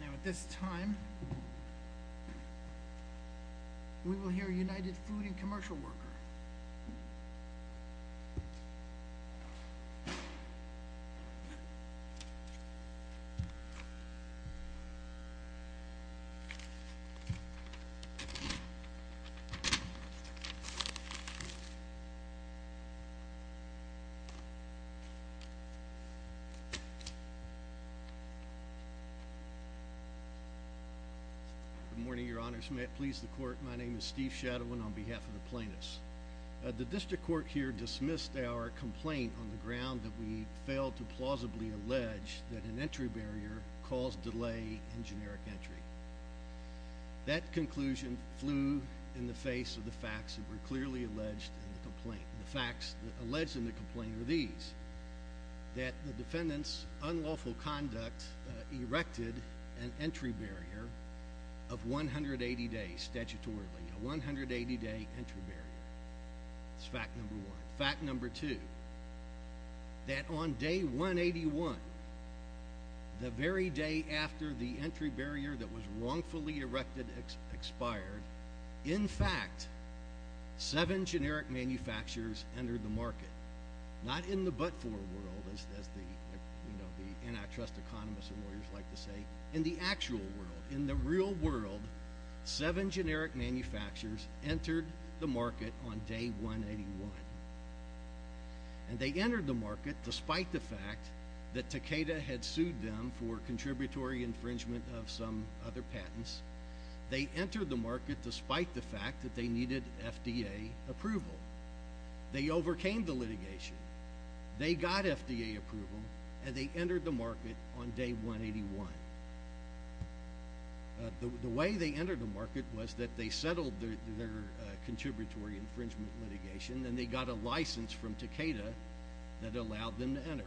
Now at this time, we will hear United Food and Commercial Worker. Good morning, Your Honors. May it please the Court, my name is Steve Shadowin on behalf of the plaintiffs. The District Court here dismissed our complaint on the ground that we failed to plausibly allege that an entry barrier caused delay in generic entry. That conclusion flew in the face of the facts that were clearly alleged in the complaint. The facts alleged in the complaint are these, that the defendant's unlawful conduct erected an entry barrier of 180 days statutorily. A 180 day entry barrier. That's fact number one. Fact number two, that on day 181, the very day after the entry barrier that was wrongfully erected expired, in fact, seven generic manufacturers entered the market. Not in the but-for world, as the antitrust economists and lawyers like to say. In the actual world, in the real world, seven generic manufacturers entered the market on day 181. And they entered the market despite the fact that Takeda had sued them for contributory infringement of some other patents. They entered the market despite the fact that they needed FDA approval. They overcame the litigation. They got FDA approval, and they entered the market on day 181. The way they entered the market was that they settled their contributory infringement litigation, and they got a license from Takeda that allowed them to enter.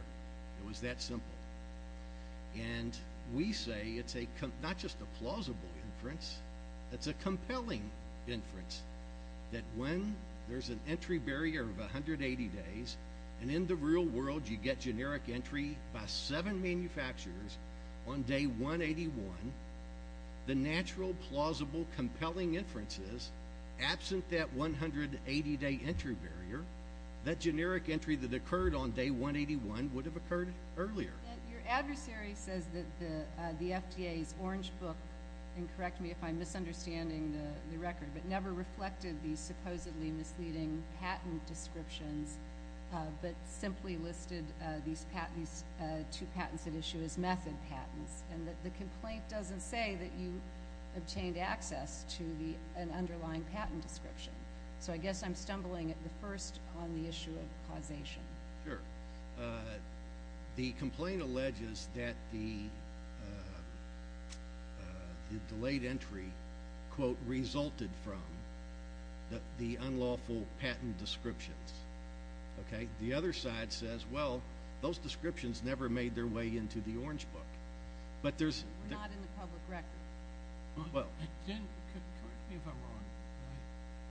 It was that simple. And we say it's not just a plausible inference, it's a compelling inference that when there's an entry barrier of 180 days, and in the real world you get generic entry by seven manufacturers on day 181, the natural, plausible, compelling inference is, absent that 180 day entry barrier, that generic entry that occurred on day 181 would have occurred earlier. Your adversary says that the FDA's orange book, and correct me if I'm misunderstanding the record, but never reflected these supposedly misleading patent descriptions, but simply listed these two patents at issue as method patents, and that the complaint doesn't say that you obtained access to an underlying patent description. So I guess I'm stumbling at the first on the issue of causation. Sure. The complaint alleges that the delayed entry, quote, resulted from the unlawful patent descriptions. Okay? The other side says, well, those descriptions never made their way into the orange book. We're not in the public record. Well, I didn't, correct me if I'm wrong,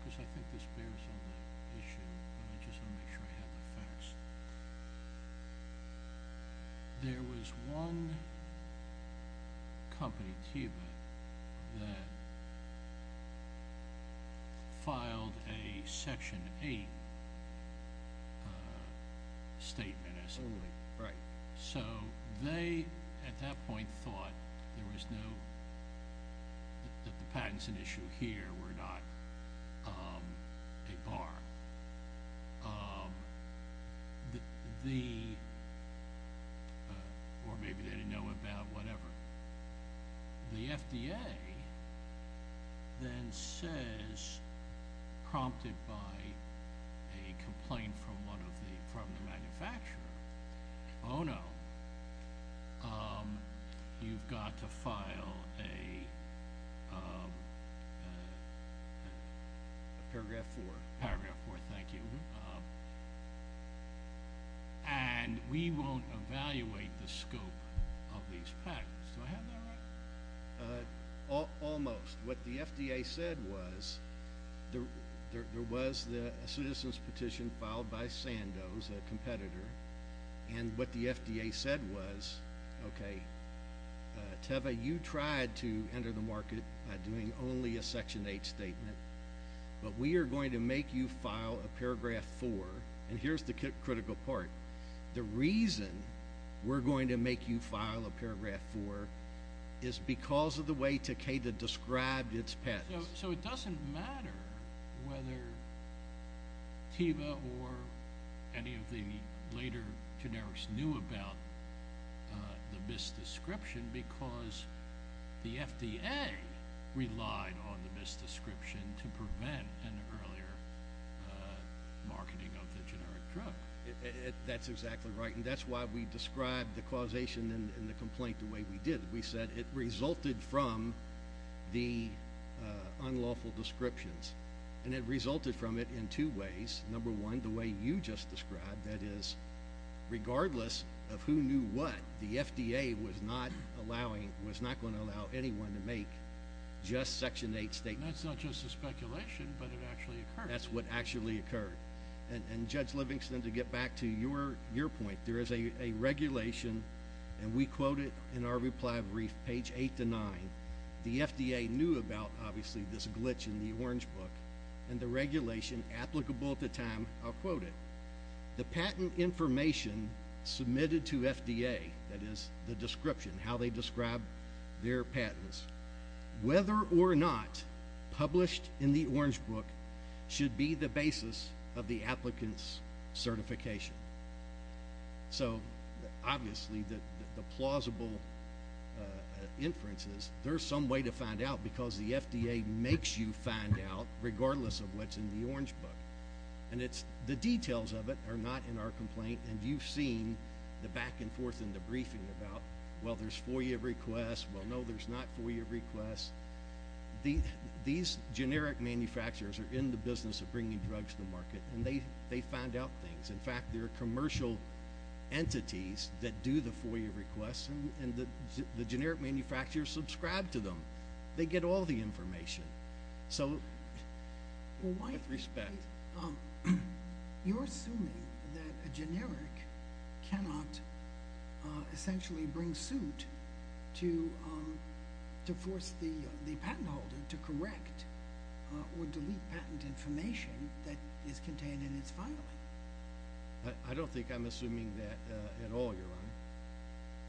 because I think this bears on the issue, and I just want to make sure I have the facts. There was one company, Teva, that filed a Section 8 statement, as it were. Right. So they, at that point, thought there was no – that the patents at issue here were not a bar. The – or maybe they didn't know about whatever. The FDA then says, prompted by a complaint from one of the – from the manufacturer, oh, no. You've got to file a – Paragraph 4. Paragraph 4, thank you. And we won't evaluate the scope of these patents. Do I have that right? Almost. What the FDA said was there was a citizen's petition filed by Sandoz, a competitor, and what the FDA said was, okay, Teva, you tried to enter the market by doing only a Section 8 statement, but we are going to make you file a Paragraph 4. And here's the critical part. The reason we're going to make you file a Paragraph 4 is because of the way Takeda described its patents. So it doesn't matter whether Teva or any of the later generics knew about the misdescription because the FDA relied on the misdescription to prevent an earlier marketing of the generic drug. That's exactly right, and that's why we described the causation in the complaint the way we did. We said it resulted from the unlawful descriptions, and it resulted from it in two ways. Number one, the way you just described, that is, regardless of who knew what, the FDA was not going to allow anyone to make just Section 8 statements. That's not just a speculation, but it actually occurred. That's what actually occurred. And, Judge Livingston, to get back to your point, there is a regulation, and we quote it in our reply brief, page 8 to 9, and the FDA knew about, obviously, this glitch in the Orange Book, and the regulation applicable at the time, I'll quote it, the patent information submitted to FDA, that is, the description, how they described their patents, whether or not published in the Orange Book should be the basis of the applicant's certification. So, obviously, the plausible inference is there's some way to find out, because the FDA makes you find out, regardless of what's in the Orange Book. And the details of it are not in our complaint, and you've seen the back and forth in the briefing about, well, there's FOIA requests. Well, no, there's not FOIA requests. These generic manufacturers are in the business of bringing drugs to the market, and they find out things. In fact, there are commercial entities that do the FOIA requests, and the generic manufacturers subscribe to them. They get all the information. So, with respect. You're assuming that a generic cannot essentially bring suit to force the patent holder to correct or delete patent information that is contained in its filing? I don't think I'm assuming that at all, Your Honor.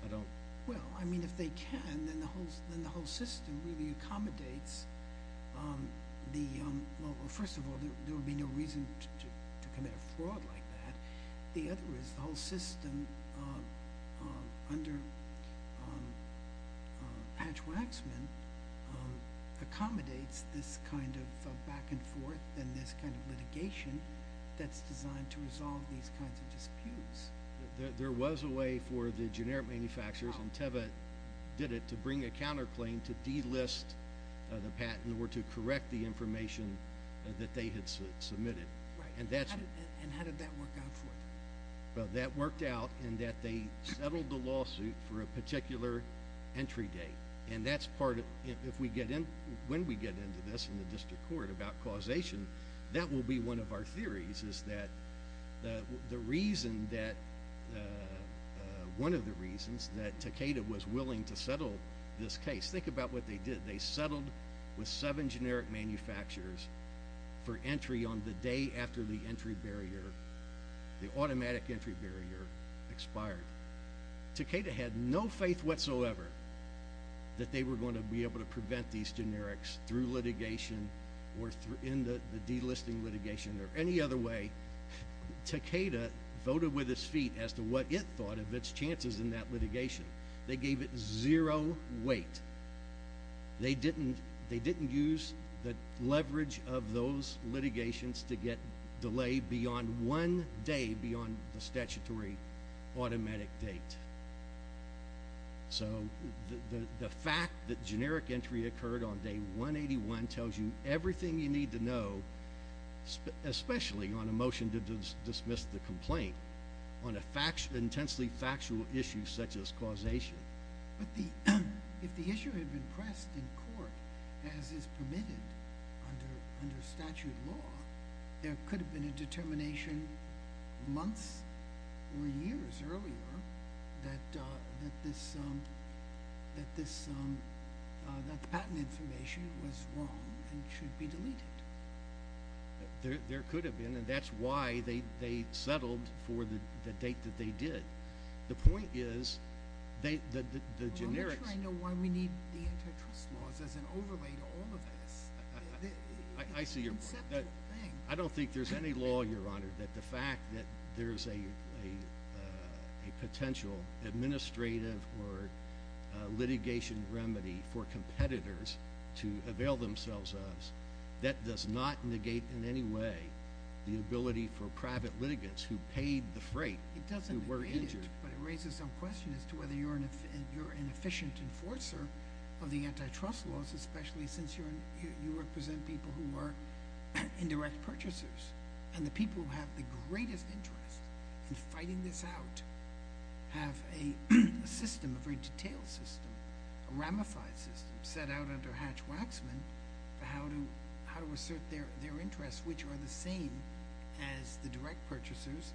I don't. Well, I mean, if they can, then the whole system really accommodates the, well, first of all, there would be no reason to commit a fraud like that. The other is the whole system under Patch Waxman accommodates this kind of back and forth and this kind of litigation that's designed to resolve these kinds of disputes. There was a way for the generic manufacturers, and Teva did it, to bring a counterclaim to delist the patent or to correct the information that they had submitted. Right. And how did that work out for them? Well, that worked out in that they settled the lawsuit for a particular entry date. And that's part of, if we get in, when we get into this in the district court about causation, that will be one of our theories is that the reason that, one of the reasons that Takeda was willing to settle this case, think about what they did. They settled with seven generic manufacturers for entry on the day after the entry barrier, the automatic entry barrier, expired. Takeda had no faith whatsoever that they were going to be able to prevent these generics through litigation or in the delisting litigation or any other way. Takeda voted with its feet as to what it thought of its chances in that litigation. They gave it zero weight. They didn't use the leverage of those litigations to get delay beyond one day beyond the statutory automatic date. So the fact that generic entry occurred on day 181 tells you everything you need to know, especially on a motion to dismiss the complaint, on an intensely factual issue such as causation. But if the issue had been pressed in court as is permitted under statute law, there could have been a determination months or years earlier that the patent information was wrong and should be deleted. There could have been, and that's why they settled for the date that they did. The point is the generics— Well, I'm trying to know why we need the antitrust laws as an overlay to all of this. I see your point. It's a conceptual thing. I don't think there's any law, Your Honor, that the fact that there's a potential administrative or litigation remedy for competitors to avail themselves of, that does not negate in any way the ability for private litigants who paid the freight who were injured. It doesn't negate it, but it raises some question as to whether you're an efficient enforcer of the antitrust laws, especially since you represent people who are indirect purchasers. And the people who have the greatest interest in fighting this out have a system, a very detailed system, a ramified system set out under Hatch-Waksman for how to assert their interests, which are the same as the direct purchasers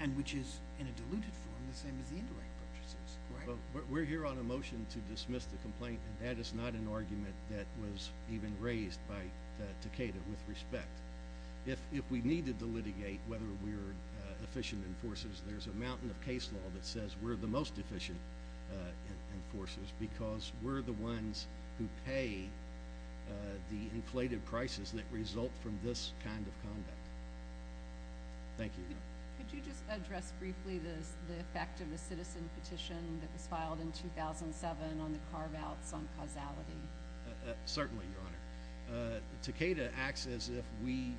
and which is in a diluted form the same as the indirect purchasers. We're here on a motion to dismiss the complaint, and that is not an argument that was even raised by Takeda with respect. If we needed to litigate whether we're efficient enforcers, there's a mountain of case law that says we're the most efficient enforcers because we're the ones who pay the inflated prices that result from this kind of conduct. Thank you. Could you just address briefly the effect of a citizen petition that was filed in 2007 on the carve-outs on causality? Certainly, Your Honor. Takeda acts as if we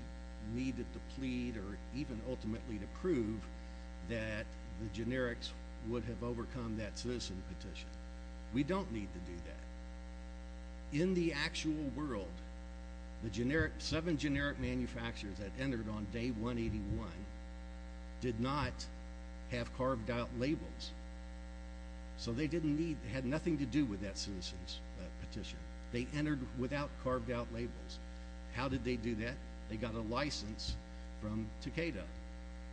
needed to plead or even ultimately to prove that the generics would have overcome that citizen petition. We don't need to do that. In the actual world, the seven generic manufacturers that entered on day 181 did not have carved-out labels, so they had nothing to do with that citizen's petition. They entered without carved-out labels. How did they do that? They got a license from Takeda,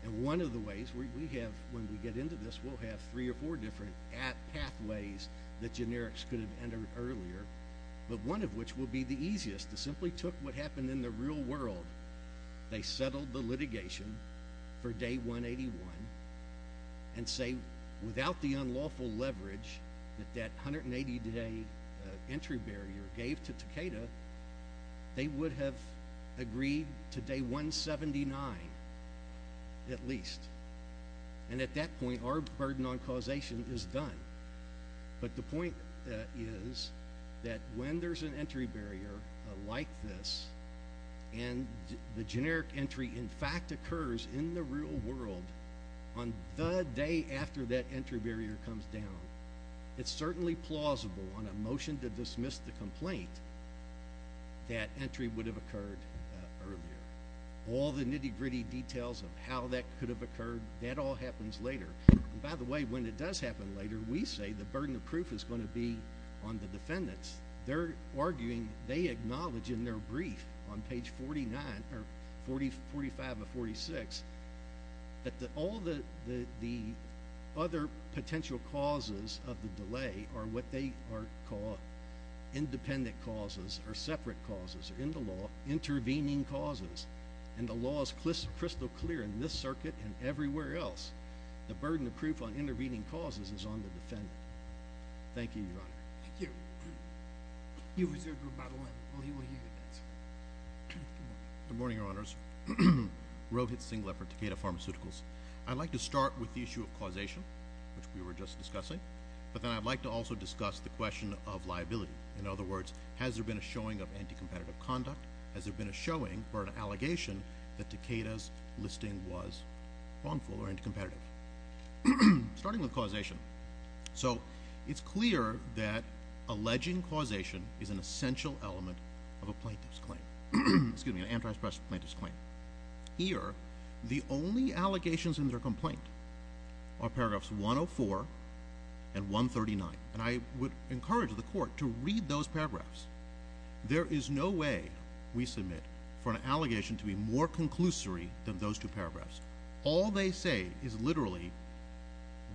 and one of the ways we have when we get into this, we'll have three or four different pathways that generics could have entered earlier, but one of which will be the easiest. They simply took what happened in the real world. They settled the litigation for day 181 and say without the unlawful leverage that that 180-day entry barrier gave to Takeda, they would have agreed to day 179 at least. And at that point, our burden on causation is done. But the point is that when there's an entry barrier like this and the generic entry in fact occurs in the real world on the day after that entry barrier comes down, it's certainly plausible on a motion to dismiss the complaint that entry would have occurred earlier. All the nitty-gritty details of how that could have occurred, that all happens later. By the way, when it does happen later, we say the burden of proof is going to be on the defendants. They're arguing, they acknowledge in their brief on page 45 of 46 that all the other potential causes of the delay are what they call independent causes or separate causes in the law, intervening causes, and the law is crystal clear in this circuit and everywhere else. The burden of proof on intervening causes is on the defendant. Thank you, Your Honor. Thank you. You reserve the room by the line while he will hear the answer. Good morning, Your Honors. Rohit Singlap for Takeda Pharmaceuticals. I'd like to start with the issue of causation, which we were just discussing, but then I'd like to also discuss the question of liability. In other words, has there been a showing of anti-competitive conduct? Has there been a showing or an allegation that Takeda's listing was wrongful or anti-competitive? Starting with causation. So it's clear that alleging causation is an essential element of a plaintiff's claim, excuse me, an antitrust plaintiff's claim. Here, the only allegations in their complaint are paragraphs 104 and 139, and I would encourage the court to read those paragraphs. There is no way we submit for an allegation to be more conclusory than those two paragraphs. All they say is literally,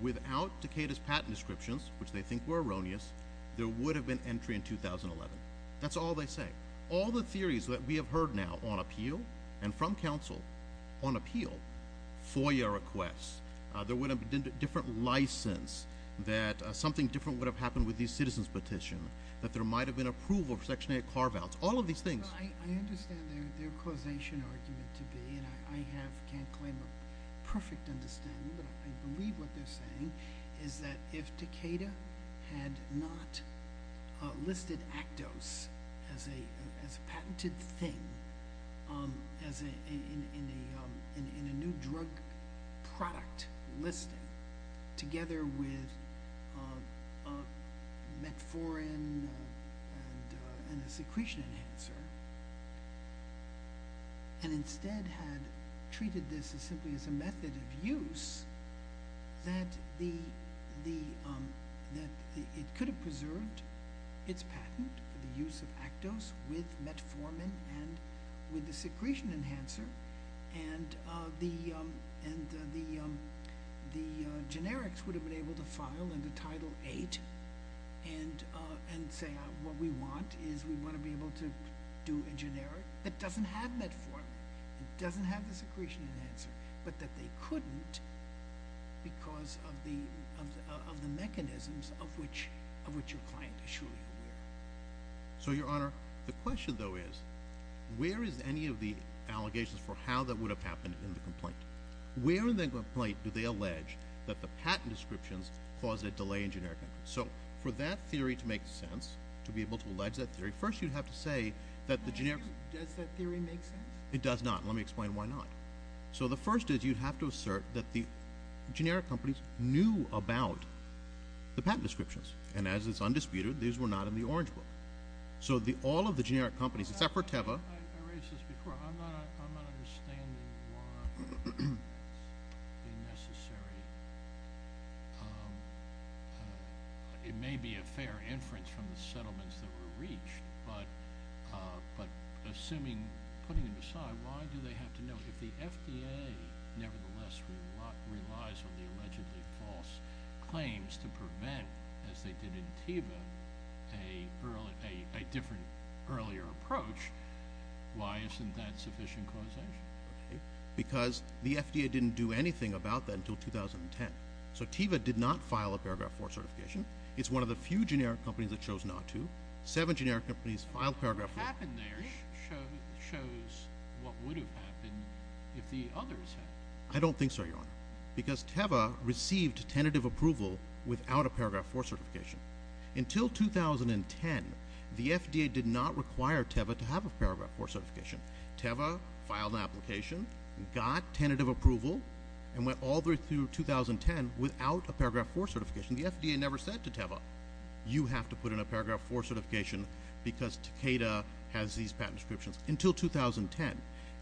without Takeda's patent descriptions, which they think were erroneous, there would have been entry in 2011. That's all they say. All the theories that we have heard now on appeal and from counsel on appeal, FOIA requests, there would have been a different license, that something different would have happened with the citizen's petition, that there might have been approval for section 8 carve-outs, all of these things. I understand their causation argument to be, and I can't claim a perfect understanding, but I believe what they're saying is that if Takeda had not listed Actos as a patented thing in a new drug product listing together with metformin and a secretion enhancer, and instead had treated this simply as a method of use, that it could have preserved its patent for the use of Actos with metformin and with the secretion enhancer, and the generics would have been able to file under Title 8 and say what we want is we want to be able to do a generic that doesn't have metformin, that doesn't have the secretion enhancer, but that they couldn't because of the mechanisms of which your client is surely aware. So, Your Honor, the question, though, is where is any of the allegations for how that would have happened in the complaint? Where in the complaint do they allege that the patent descriptions caused a delay in generic? So for that theory to make sense, to be able to allege that theory, first you have to say that the generic... Does that theory make sense? It does not. Let me explain why not. So the first is you have to assert that the generic companies knew about the patent descriptions, and as is undisputed, these were not in the Orange Book. So all of the generic companies, except for Teva... I raised this before. I'm not understanding why it would be necessary. It may be a fair inference from the settlements that were reached, but assuming, putting them aside, why do they have to know? If the FDA, nevertheless, relies on the allegedly false claims to prevent, as they did in Teva, a different earlier approach, why isn't that sufficient causation? Because the FDA didn't do anything about that until 2010. So Teva did not file a Paragraph 4 certification. It's one of the few generic companies that chose not to. Seven generic companies filed Paragraph 4. What happened there shows what would have happened if the others had. I don't think so, Your Honor, because Teva received tentative approval without a Paragraph 4 certification. Until 2010, the FDA did not require Teva to have a Paragraph 4 certification. Teva filed an application, got tentative approval, and went all the way through 2010 without a Paragraph 4 certification. The FDA never said to Teva, You have to put in a Paragraph 4 certification because Takeda has these patent descriptions, until 2010.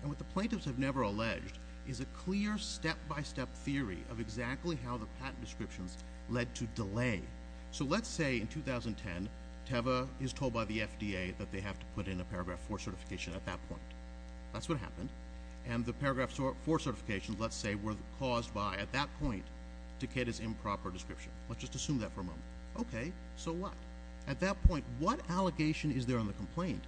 And what the plaintiffs have never alleged is a clear step-by-step theory of exactly how the patent descriptions led to delay. So let's say, in 2010, Teva is told by the FDA that they have to put in a Paragraph 4 certification at that point. That's what happened. And the Paragraph 4 certifications, let's say, were caused by, at that point, Takeda's improper description. Let's just assume that for a moment. Okay, so what? At that point, what allegation is there on the complaint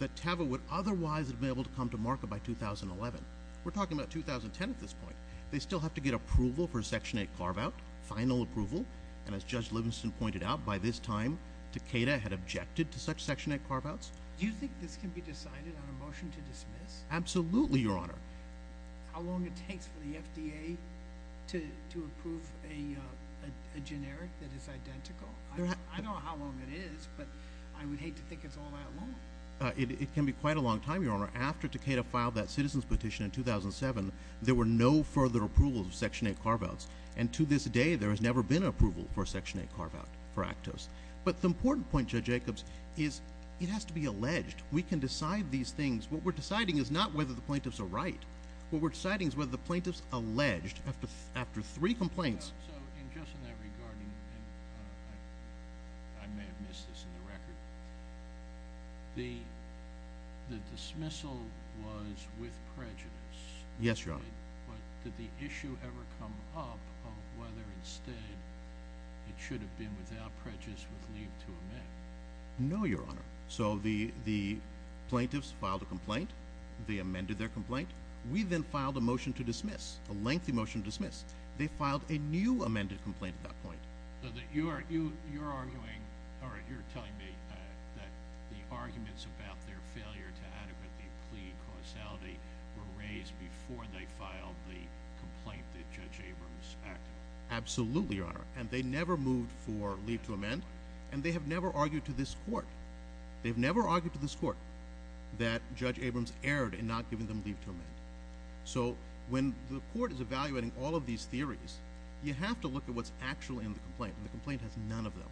that Teva would otherwise have been able to come to market by 2011? We're talking about 2010 at this point. They still have to get approval for Section 8 carve-out, final approval. And as Judge Livingston pointed out, by this time, Takeda had objected to such Section 8 carve-outs. Do you think this can be decided on a motion to dismiss? Absolutely, Your Honor. How long it takes for the FDA to approve a generic that is identical? I don't know how long it is, but I would hate to think it's all that long. It can be quite a long time, Your Honor. After Takeda filed that citizen's petition in 2007, there were no further approvals of Section 8 carve-outs. And to this day, there has never been an approval for a Section 8 carve-out for Actos. But the important point, Judge Jacobs, is it has to be alleged. We can decide these things. What we're deciding is not whether the plaintiffs are right. What we're deciding is whether the plaintiffs alleged after three complaints. So, in just in that regard, and I may have missed this in the record, the dismissal was with prejudice. Yes, Your Honor. But did the issue ever come up of whether, instead, it should have been without prejudice with leave to amend? No, Your Honor. So the plaintiffs filed a complaint. They amended their complaint. We then filed a motion to dismiss, a lengthy motion to dismiss. They filed a new amended complaint at that point. So you're telling me that the arguments about their failure to adequately plead causality were raised before they filed the complaint that Judge Abrams acted on? And they never moved for leave to amend, and they have never argued to this court. They've never argued to this court that Judge Abrams erred in not giving them leave to amend. So when the court is evaluating all of these theories, you have to look at what's actually in the complaint, and the complaint has none of them.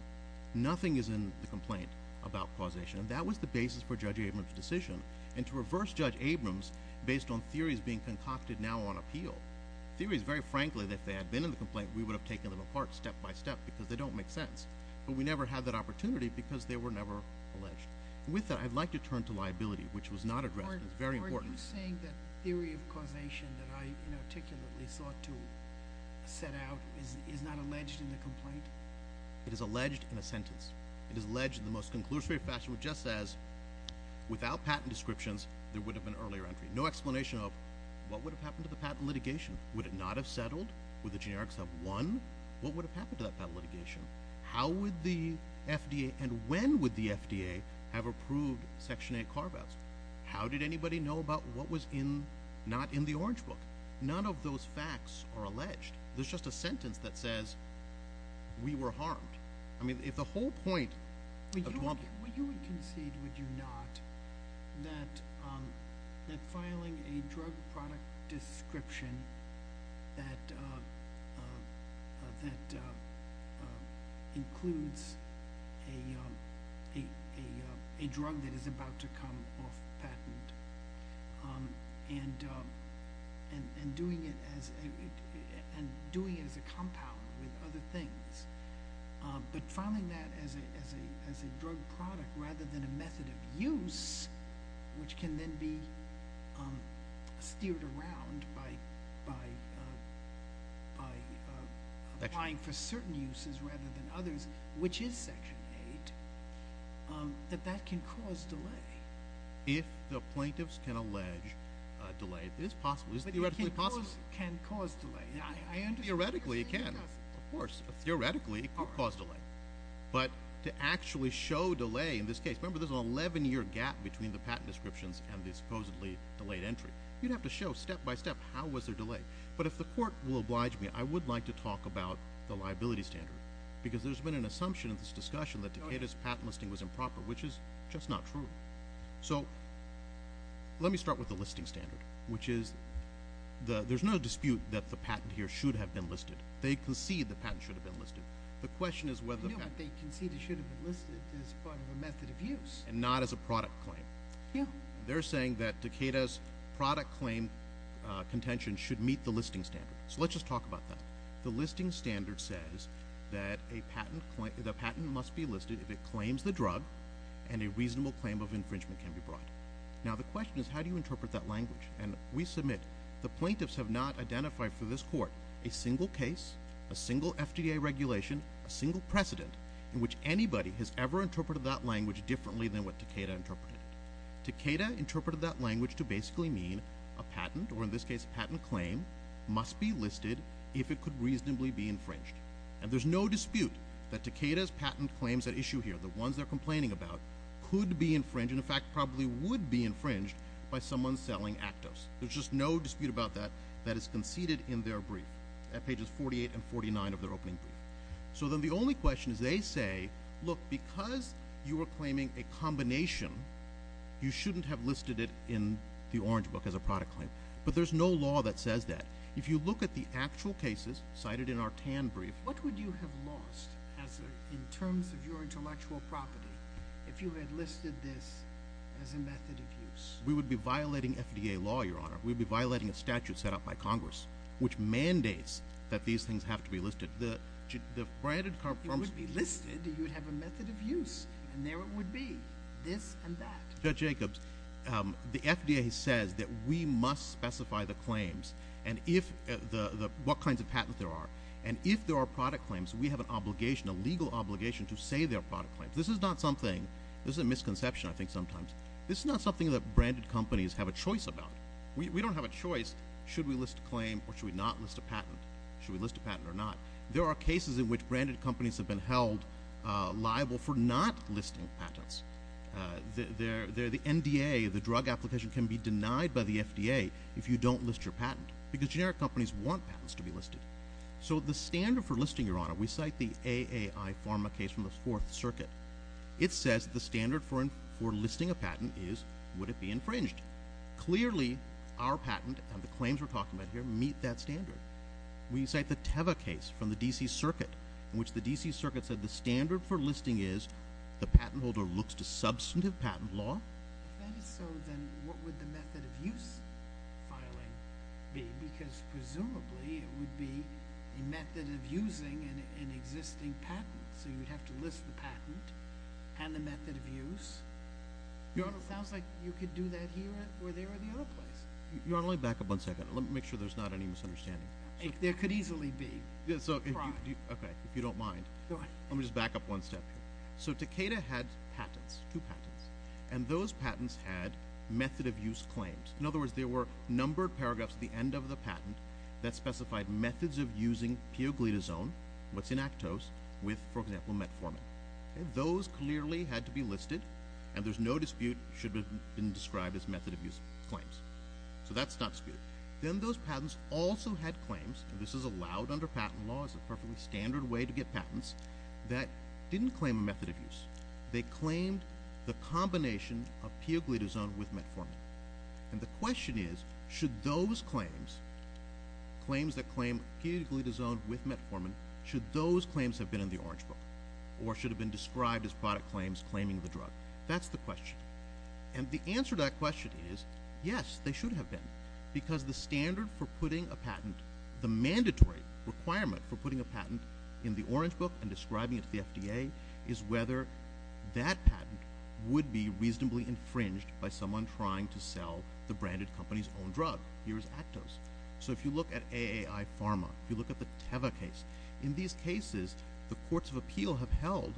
Nothing is in the complaint about causation, and that was the basis for Judge Abrams' decision. And to reverse Judge Abrams, based on theories being concocted now on appeal, theories, very frankly, that if they had been in the complaint, we would have taken them apart step by step because they don't make sense. But we never had that opportunity because they were never alleged. With that, I'd like to turn to liability, which was not addressed. It's very important. Are you saying that theory of causation that I inarticulately sought to set out is not alleged in the complaint? It is alleged in a sentence. It is alleged in the most conclusory fashion, which just says, without patent descriptions, there would have been earlier entry. No explanation of what would have happened to the patent litigation. Would it not have settled? Would the generics have won? What would have happened to that patent litigation? How would the FDA, and when would the FDA, have approved Section 8 carve-outs? How did anybody know about what was not in the Orange Book? None of those facts are alleged. There's just a sentence that says, we were harmed. I mean, if the whole point of Duval— Would you concede, would you not, that filing a drug product description that includes a drug that is about to come off patent and doing it as a compound with other things, but filing that as a drug product rather than a method of use, which can then be steered around by applying for certain uses rather than others, which is Section 8, that that can cause delay? If the plaintiffs can allege delay, it is possible. It is theoretically possible. But it can cause delay. Theoretically, it can. Of course. Theoretically, it could cause delay. But to actually show delay in this case— Remember, there's an 11-year gap between the patent descriptions and the supposedly delayed entry. You'd have to show step by step how was there delay. But if the court will oblige me, I would like to talk about the liability standard, because there's been an assumption in this discussion that Takeda's patent listing was improper, which is just not true. So let me start with the listing standard, which is there's no dispute that the patent here should have been listed. They concede the patent should have been listed. The question is whether the patent— No, but they concede it should have been listed as part of a method of use. And not as a product claim. Yeah. They're saying that Takeda's product claim contention should meet the listing standard. So let's just talk about that. The listing standard says that the patent must be listed if it claims the drug and a reasonable claim of infringement can be brought. Now, the question is how do you interpret that language? And we submit the plaintiffs have not identified for this court a single case, a single FDA regulation, a single precedent, in which anybody has ever interpreted that language differently than what Takeda interpreted. Takeda interpreted that language to basically mean a patent, or in this case a patent claim, must be listed if it could reasonably be infringed. And there's no dispute that Takeda's patent claims at issue here, the ones they're complaining about, could be infringed, and in fact probably would be infringed by someone selling Actos. There's just no dispute about that. That is conceded in their brief at pages 48 and 49 of their opening brief. So then the only question is they say, look, because you are claiming a combination, you shouldn't have listed it in the orange book as a product claim. But there's no law that says that. If you look at the actual cases cited in our TAN brief. What would you have lost in terms of your intellectual property if you had listed this as a method of use? We would be violating FDA law, Your Honor. We would be violating a statute set up by Congress, which mandates that these things have to be listed. It would be listed. You would have a method of use. And there it would be, this and that. Judge Jacobs, the FDA says that we must specify the claims and what kinds of patents there are. And if there are product claims, we have an obligation, a legal obligation, to say they're product claims. This is not something, this is a misconception I think sometimes, this is not something that branded companies have a choice about. We don't have a choice, should we list a claim or should we not list a patent? Should we list a patent or not? There are cases in which branded companies have been held liable for not listing patents. The NDA, the drug application, can be denied by the FDA if you don't list your patent. Because generic companies want patents to be listed. So the standard for listing, Your Honor, we cite the AAI Pharma case from the Fourth Circuit. It says the standard for listing a patent is would it be infringed? Clearly, our patent and the claims we're talking about here meet that standard. We cite the Teva case from the D.C. Circuit, in which the D.C. Circuit said the standard for listing is the patent holder looks to substantive patent law. If that is so, then what would the method of use filing be? Because presumably it would be a method of using an existing patent. So you would have to list the patent and the method of use. Your Honor, it sounds like you could do that here or there or the other place. Your Honor, let me back up one second. Let me make sure there's not any misunderstanding. There could easily be. Okay, if you don't mind. Go ahead. Let me just back up one step here. So Takeda had patents, two patents, and those patents had method of use claims. In other words, there were numbered paragraphs at the end of the patent that specified methods of using pioglitazone, what's in Actos, with, for example, metformin. Those clearly had to be listed, and there's no dispute it should have been described as method of use claims. So that's not disputed. Then those patents also had claims, and this is allowed under patent law. It's a perfectly standard way to get patents, that didn't claim a method of use. They claimed the combination of pioglitazone with metformin. And the question is, should those claims, claims that claim pioglitazone with metformin, should those claims have been in the Orange Book, or should have been described as product claims claiming the drug? That's the question. And the answer to that question is, yes, they should have been, because the standard for putting a patent, the mandatory requirement for putting a patent in the Orange Book and describing it to the FDA, is whether that patent would be reasonably infringed by someone trying to sell the branded company's own drug. Here's Actos. So if you look at AAI Pharma, if you look at the Teva case, in these cases, the courts of appeal have held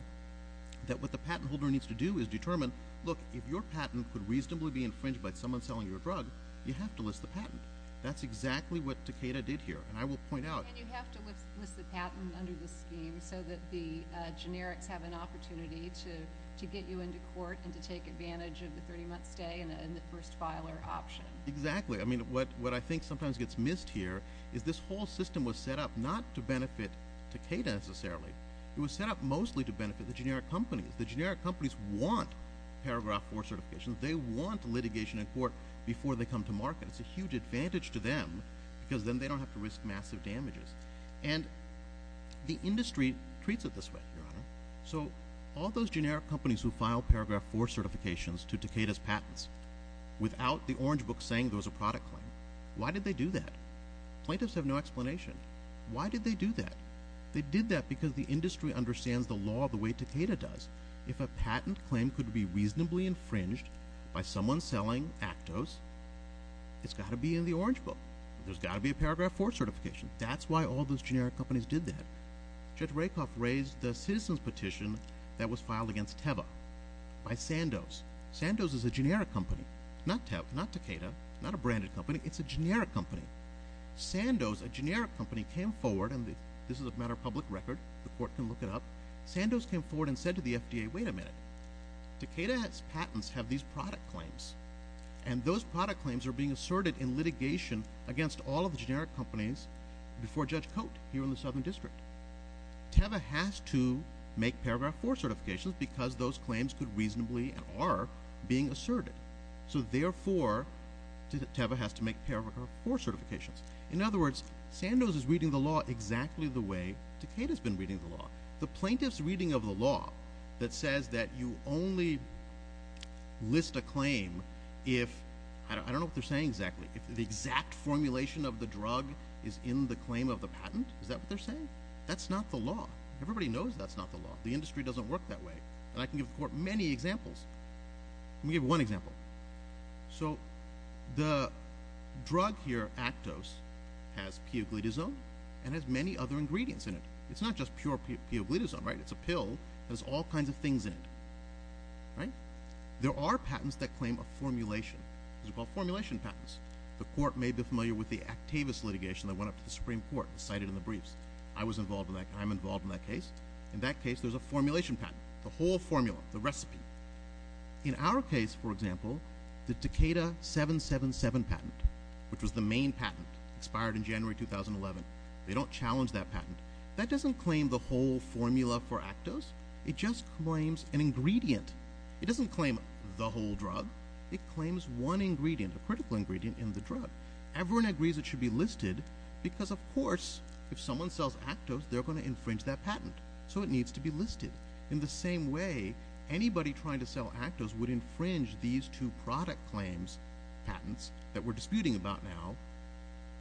that what the patent holder needs to do is determine, look, if your patent could reasonably be infringed by someone selling your drug, you have to list the patent. That's exactly what Takeda did here, and I will point out. And you have to list the patent under the scheme so that the generics have an opportunity to get you into court and to take advantage of the 30-month stay and the first filer option. Exactly. I mean, what I think sometimes gets missed here is this whole system was set up not to benefit Takeda necessarily. It was set up mostly to benefit the generic companies. The generic companies want Paragraph IV certifications. They want litigation in court before they come to market. It's a huge advantage to them because then they don't have to risk massive damages. And the industry treats it this way, Your Honor. So all those generic companies who file Paragraph IV certifications to Takeda's patents without the orange book saying there was a product claim, why did they do that? Plaintiffs have no explanation. Why did they do that? They did that because the industry understands the law the way Takeda does. If a patent claim could be reasonably infringed by someone selling Actos, it's got to be in the orange book. There's got to be a Paragraph IV certification. That's why all those generic companies did that. Judge Rakoff raised the citizen's petition that was filed against Teva by Sandoz. Sandoz is a generic company, not Takeda, not a branded company. It's a generic company. Sandoz, a generic company, came forward and this is a matter of public record. The court can look it up. Sandoz came forward and said to the FDA, wait a minute. Takeda's patents have these product claims, and those product claims are being asserted in litigation against all of the generic companies before Judge Cote here in the Southern District. Teva has to make Paragraph IV certifications because those claims could reasonably and are being asserted. So therefore, Teva has to make Paragraph IV certifications. In other words, Sandoz is reading the law exactly the way Takeda has been reading the law. The plaintiff's reading of the law that says that you only list a claim if, I don't know what they're saying exactly, if the exact formulation of the drug is in the claim of the patent, is that what they're saying? That's not the law. Everybody knows that's not the law. The industry doesn't work that way. And I can give the court many examples. Let me give you one example. So the drug here, Actos, has puglitazone and has many other ingredients in it. It's not just pure puglitazone, right? It's a pill. It has all kinds of things in it, right? There are patents that claim a formulation. These are called formulation patents. The court may be familiar with the Actavis litigation that went up to the Supreme Court, cited in the briefs. I was involved in that. I'm involved in that case. In that case, there's a formulation patent. The whole formula, the recipe. In our case, for example, the Takeda 777 patent, which was the main patent, expired in January 2011, they don't challenge that patent. That doesn't claim the whole formula for Actos. It just claims an ingredient. It doesn't claim the whole drug. It claims one ingredient, a critical ingredient in the drug. Everyone agrees it should be listed because, of course, if someone sells Actos, they're going to infringe that patent. So it needs to be listed. In the same way, anybody trying to sell Actos would infringe these two product claims patents that we're disputing about now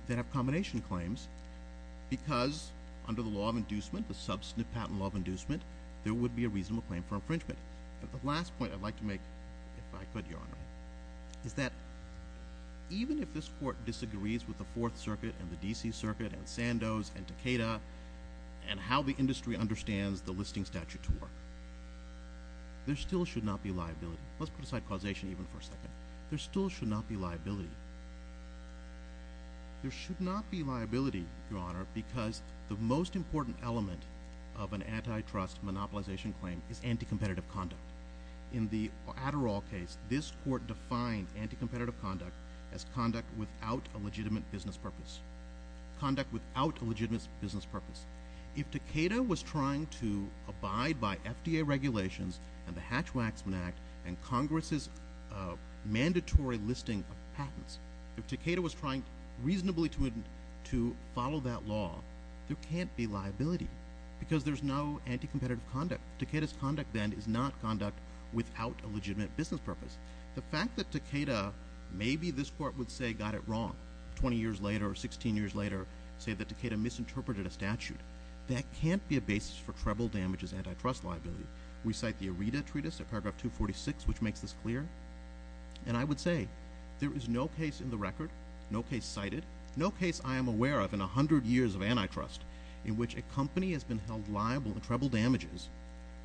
that have combination claims because, under the law of inducement, the substantive patent law of inducement, there would be a reasonable claim for infringement. The last point I'd like to make, if I could, Your Honor, is that even if this court disagrees with the Fourth Circuit and the D.C. Circuit and Sandoz and Takeda and how the industry understands the listing statute to work, there still should not be liability. Let's put aside causation even for a second. There still should not be liability. There should not be liability, Your Honor, because the most important element of an antitrust monopolization claim is anticompetitive conduct. In the Adderall case, this court defined anticompetitive conduct as conduct without a legitimate business purpose. Conduct without a legitimate business purpose. If Takeda was trying to abide by FDA regulations and the Hatch-Waxman Act and Congress's mandatory listing of patents, if Takeda was trying reasonably to follow that law, there can't be liability because there's no anticompetitive conduct. Takeda's conduct, then, is not conduct without a legitimate business purpose. The fact that Takeda, maybe this court would say got it wrong 20 years later or 16 years later, say that Takeda misinterpreted a statute, that can't be a basis for treble damages antitrust liability. We cite the Areta Treatise at paragraph 246, which makes this clear. And I would say there is no case in the record, no case cited, no case I am aware of in 100 years of antitrust in which a company has been held liable in treble damages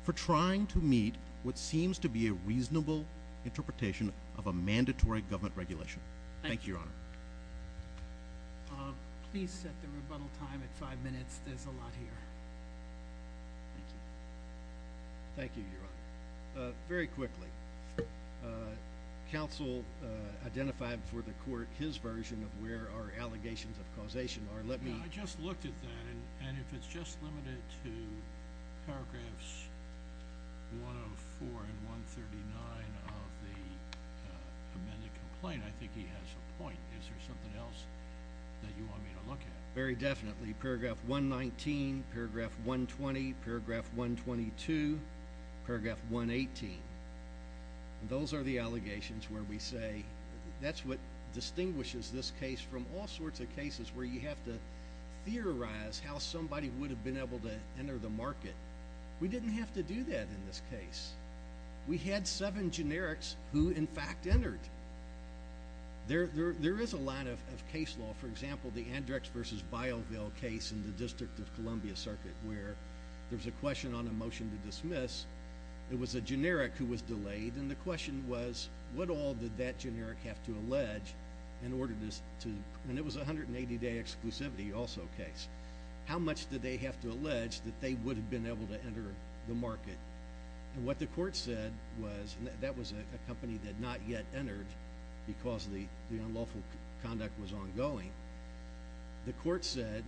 for trying to meet what seems to be a reasonable interpretation of a mandatory government regulation. Thank you, Your Honor. Please set the rebuttal time at five minutes. There's a lot here. Thank you. Thank you, Your Honor. Very quickly, counsel identified for the court his version of where our allegations of causation are. Let me— I just looked at that, and if it's just limited to paragraphs 104 and 139 of the amended complaint, I think he has a point. Is there something else that you want me to look at? Very definitely. Paragraph 119, paragraph 120, paragraph 122, paragraph 118. Those are the allegations where we say that's what distinguishes this case from all sorts of cases where you have to theorize how somebody would have been able to enter the market. We didn't have to do that in this case. We had seven generics who, in fact, entered. There is a lot of case law. For example, the Andrex v. Bileville case in the District of Columbia Circuit where there was a question on a motion to dismiss. It was a generic who was delayed, and the question was what all did that generic have to allege in order to— and it was a 180-day exclusivity also case. How much did they have to allege that they would have been able to enter the market? What the court said was—and that was a company that had not yet entered because the unlawful conduct was ongoing. The court said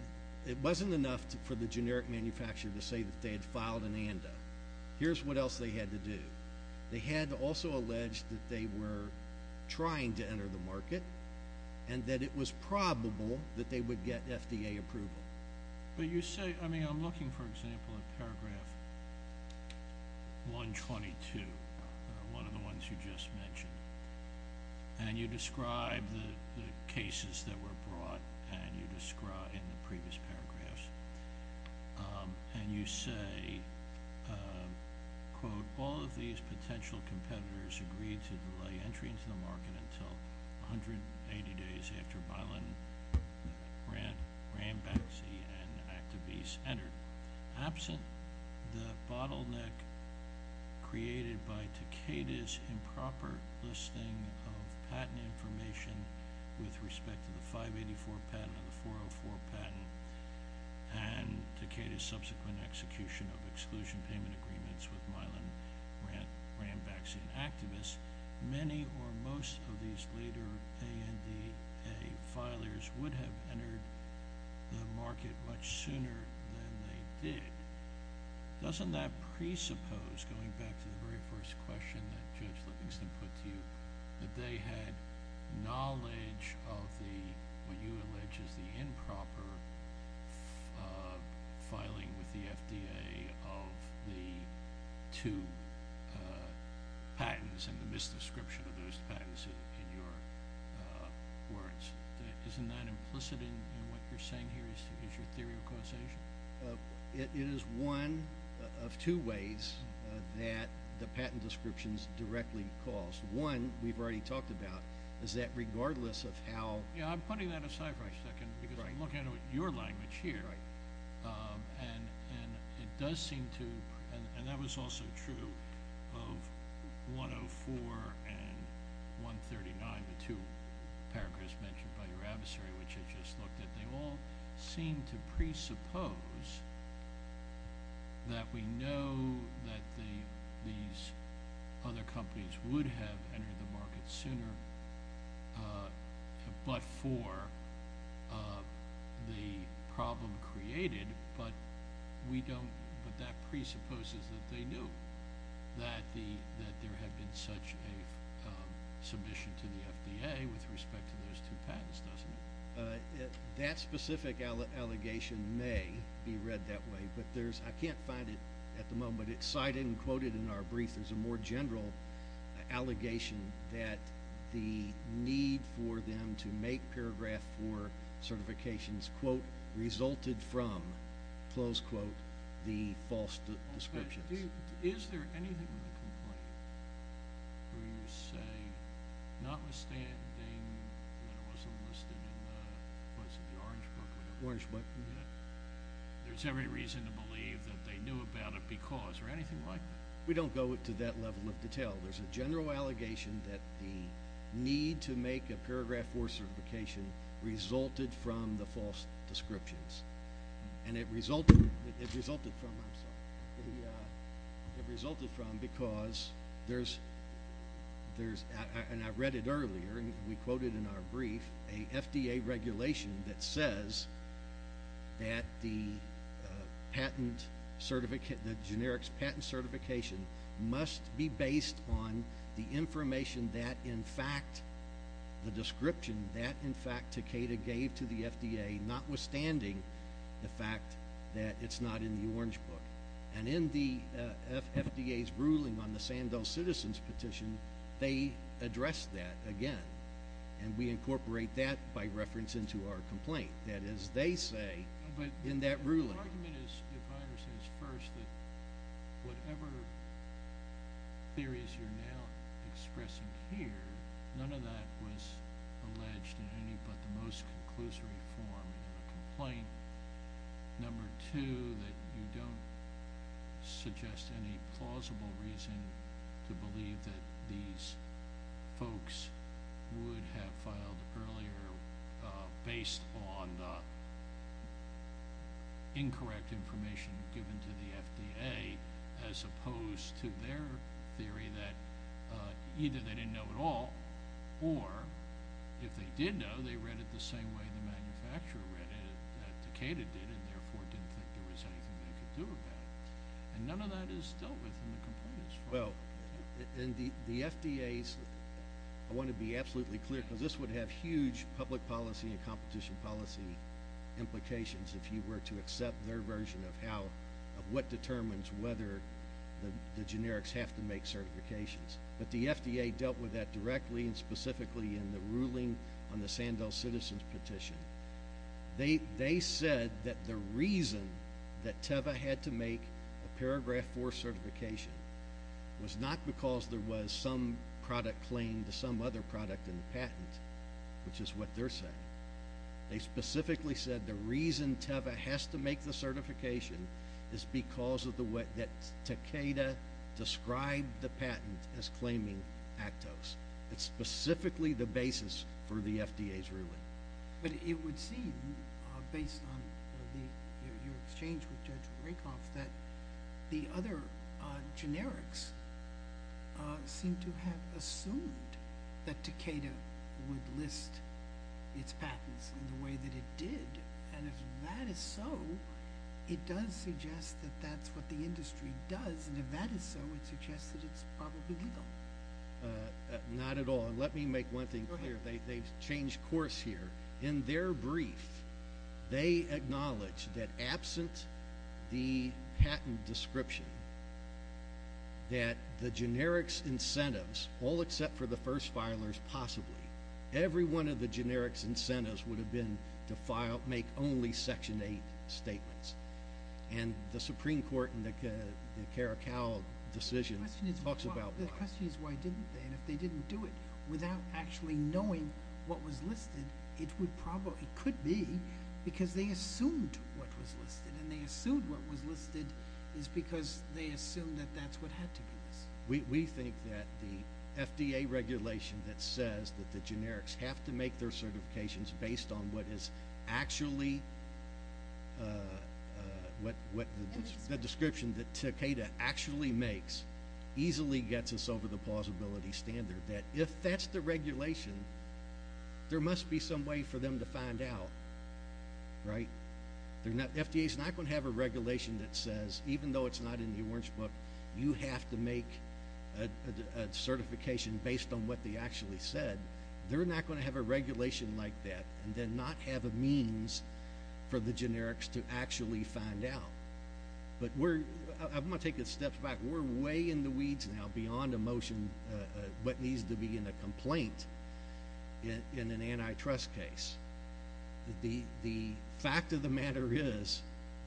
it wasn't enough for the generic manufacturer to say that they had filed an ANDA. Here's what else they had to do. They had to also allege that they were trying to enter the market and that it was probable that they would get FDA approval. But you say—I mean, I'm looking, for example, at paragraph 122, one of the ones you just mentioned, and you describe the cases that were brought in the previous paragraphs, and you say, quote, All of these potential competitors agreed to delay entry into the market until 180 days after Mylan, Rambaxi, and Activis entered. Absent the bottleneck created by Takeda's improper listing of patent information with respect to the 584 patent and the 404 patent and Takeda's subsequent execution of exclusion payment agreements with Mylan, Rambaxi, and Activis, many or most of these later ANDA filers would have entered the market much sooner than they did. Doesn't that presuppose, going back to the very first question that Judge Livingston put to you, that they had knowledge of what you allege is the improper filing with the FDA of the two patents and the misdescription of those patents in your words? Isn't that implicit in what you're saying here? Is your theory of causation? It is one of two ways that the patent descriptions directly cause. One, we've already talked about, is that regardless of how – Yeah, I'm putting that aside for a second because I'm looking at your language here. Right. And it does seem to – and that was also true of 104 and 139, the two paragraphs mentioned by your adversary, which I just looked at. They all seem to presuppose that we know that these other companies would have entered the market sooner but for the problem created, but we don't – but that presupposes that they knew that there had been such a submission to the FDA with respect to those two patents, doesn't it? That specific allegation may be read that way, but there's – I can't find it at the moment. It's cited and quoted in our brief. There's a more general allegation that the need for them to make paragraph 4 certifications, quote, resulted from, close quote, the false descriptions. Is there anything in the complaint where you say, notwithstanding when it was enlisted in the place of the Orange Book or the – Orange Book. There's every reason to believe that they knew about it because, or anything like that. We don't go to that level of detail. There's a general allegation that the need to make a paragraph 4 certification resulted from the false descriptions, and it resulted from, I'm sorry, it resulted from because there's – and I read it earlier, and we quoted in our brief a FDA regulation that says that the patent – the generics patent certification must be based on the information that, in fact, the description that, in fact, Takeda gave to the FDA notwithstanding the fact that it's not in the Orange Book. And in the FDA's ruling on the Sandell Citizens petition, they addressed that again, and we incorporate that by reference into our complaint. That is, they say in that ruling – But the argument is, if I understand this first, that whatever theories you're now expressing here, none of that was alleged in any but the most conclusory form in the complaint. Number two, that you don't suggest any plausible reason to believe that these folks would have filed earlier based on the incorrect information given to the FDA as opposed to their theory that either they didn't know at all or, if they did know, they read it the same way the manufacturer read it that Takeda did and, therefore, didn't think there was anything they could do about it. And none of that is dealt with in the complaint as far as I'm concerned. Well, and the FDA's – I want to be absolutely clear because this would have huge public policy and competition policy implications if you were to accept their version of how – but the FDA dealt with that directly and specifically in the ruling on the Sandell Citizens petition. They said that the reason that TEVA had to make a Paragraph 4 certification was not because there was some product claimed, some other product in the patent, which is what they're saying. They specifically said the reason TEVA has to make the certification is because of the way that Takeda described the patent as claiming Actos. That's specifically the basis for the FDA's ruling. But it would seem, based on your exchange with Judge Rakoff, that the other generics seem to have assumed that Takeda would list its patents in the way that it did. And if that is so, it does suggest that that's what the industry does. And if that is so, it suggests that it's probably legal. Not at all. And let me make one thing clear. They've changed course here. In their brief, they acknowledge that absent the patent description, that the generics incentives, all except for the first filers possibly, every one of the generics incentives would have been to make only Section 8 statements. And the Supreme Court in the Karakal decision talks about why. The question is why didn't they? And if they didn't do it without actually knowing what was listed, it could be because they assumed what was listed. And they assumed what was listed is because they assumed that that's what had to be listed. We think that the FDA regulation that says that the generics have to make their certifications based on what is actually what the description that Takeda actually makes easily gets us over the plausibility standard. That if that's the regulation, there must be some way for them to find out, right? The FDA is not going to have a regulation that says, even though it's not in the orange book, you have to make a certification based on what they actually said. They're not going to have a regulation like that and then not have a means for the generics to actually find out. But I'm going to take a step back. We're way in the weeds now beyond a motion what needs to be in a complaint in an antitrust case. The fact of the matter is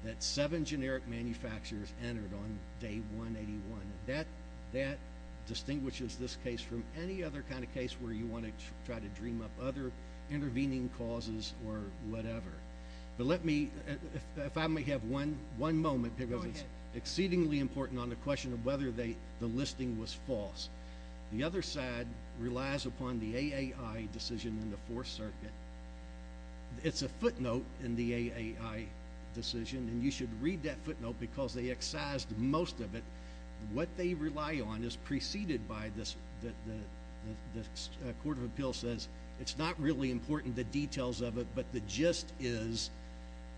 that seven generic manufacturers entered on day 181. That distinguishes this case from any other kind of case where you want to try to dream up other intervening causes or whatever. But let me, if I may have one moment because it's exceedingly important on the question of whether the listing was false. The other side relies upon the AAI decision in the Fourth Circuit. It's a footnote in the AAI decision, and you should read that footnote because they excised most of it. What they rely on is preceded by this. The Court of Appeals says it's not really important, the details of it, but the gist is,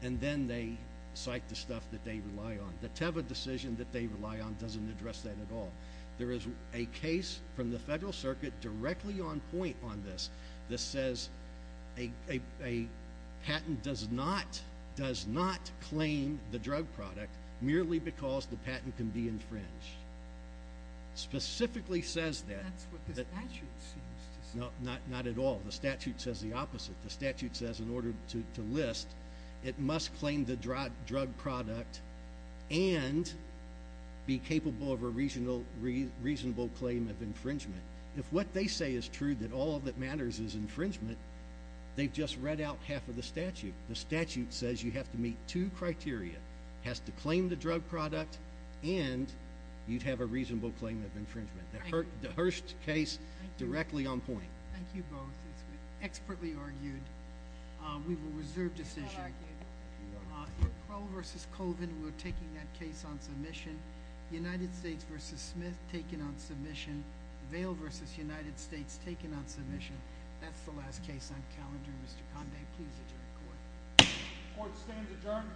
and then they cite the stuff that they rely on. The Teva decision that they rely on doesn't address that at all. There is a case from the Federal Circuit directly on point on this that says a patent does not claim the drug product merely because the patent can be infringed. It specifically says that. That's what the statute seems to say. No, not at all. The statute says the opposite. The statute says in order to list, it must claim the drug product and be capable of a reasonable claim of infringement. If what they say is true, that all that matters is infringement, they've just read out half of the statute. The statute says you have to meet two criteria. It has to claim the drug product, and you'd have a reasonable claim of infringement. The Hearst case directly on point. Thank you both. It's been expertly argued. We will reserve decision. Crowell v. Colvin were taking that case on submission. United States v. Smith taking on submission. Vail v. United States taking on submission. That's the last case on calendar. Mr. Conday, please adjourn court. Court stands adjourned.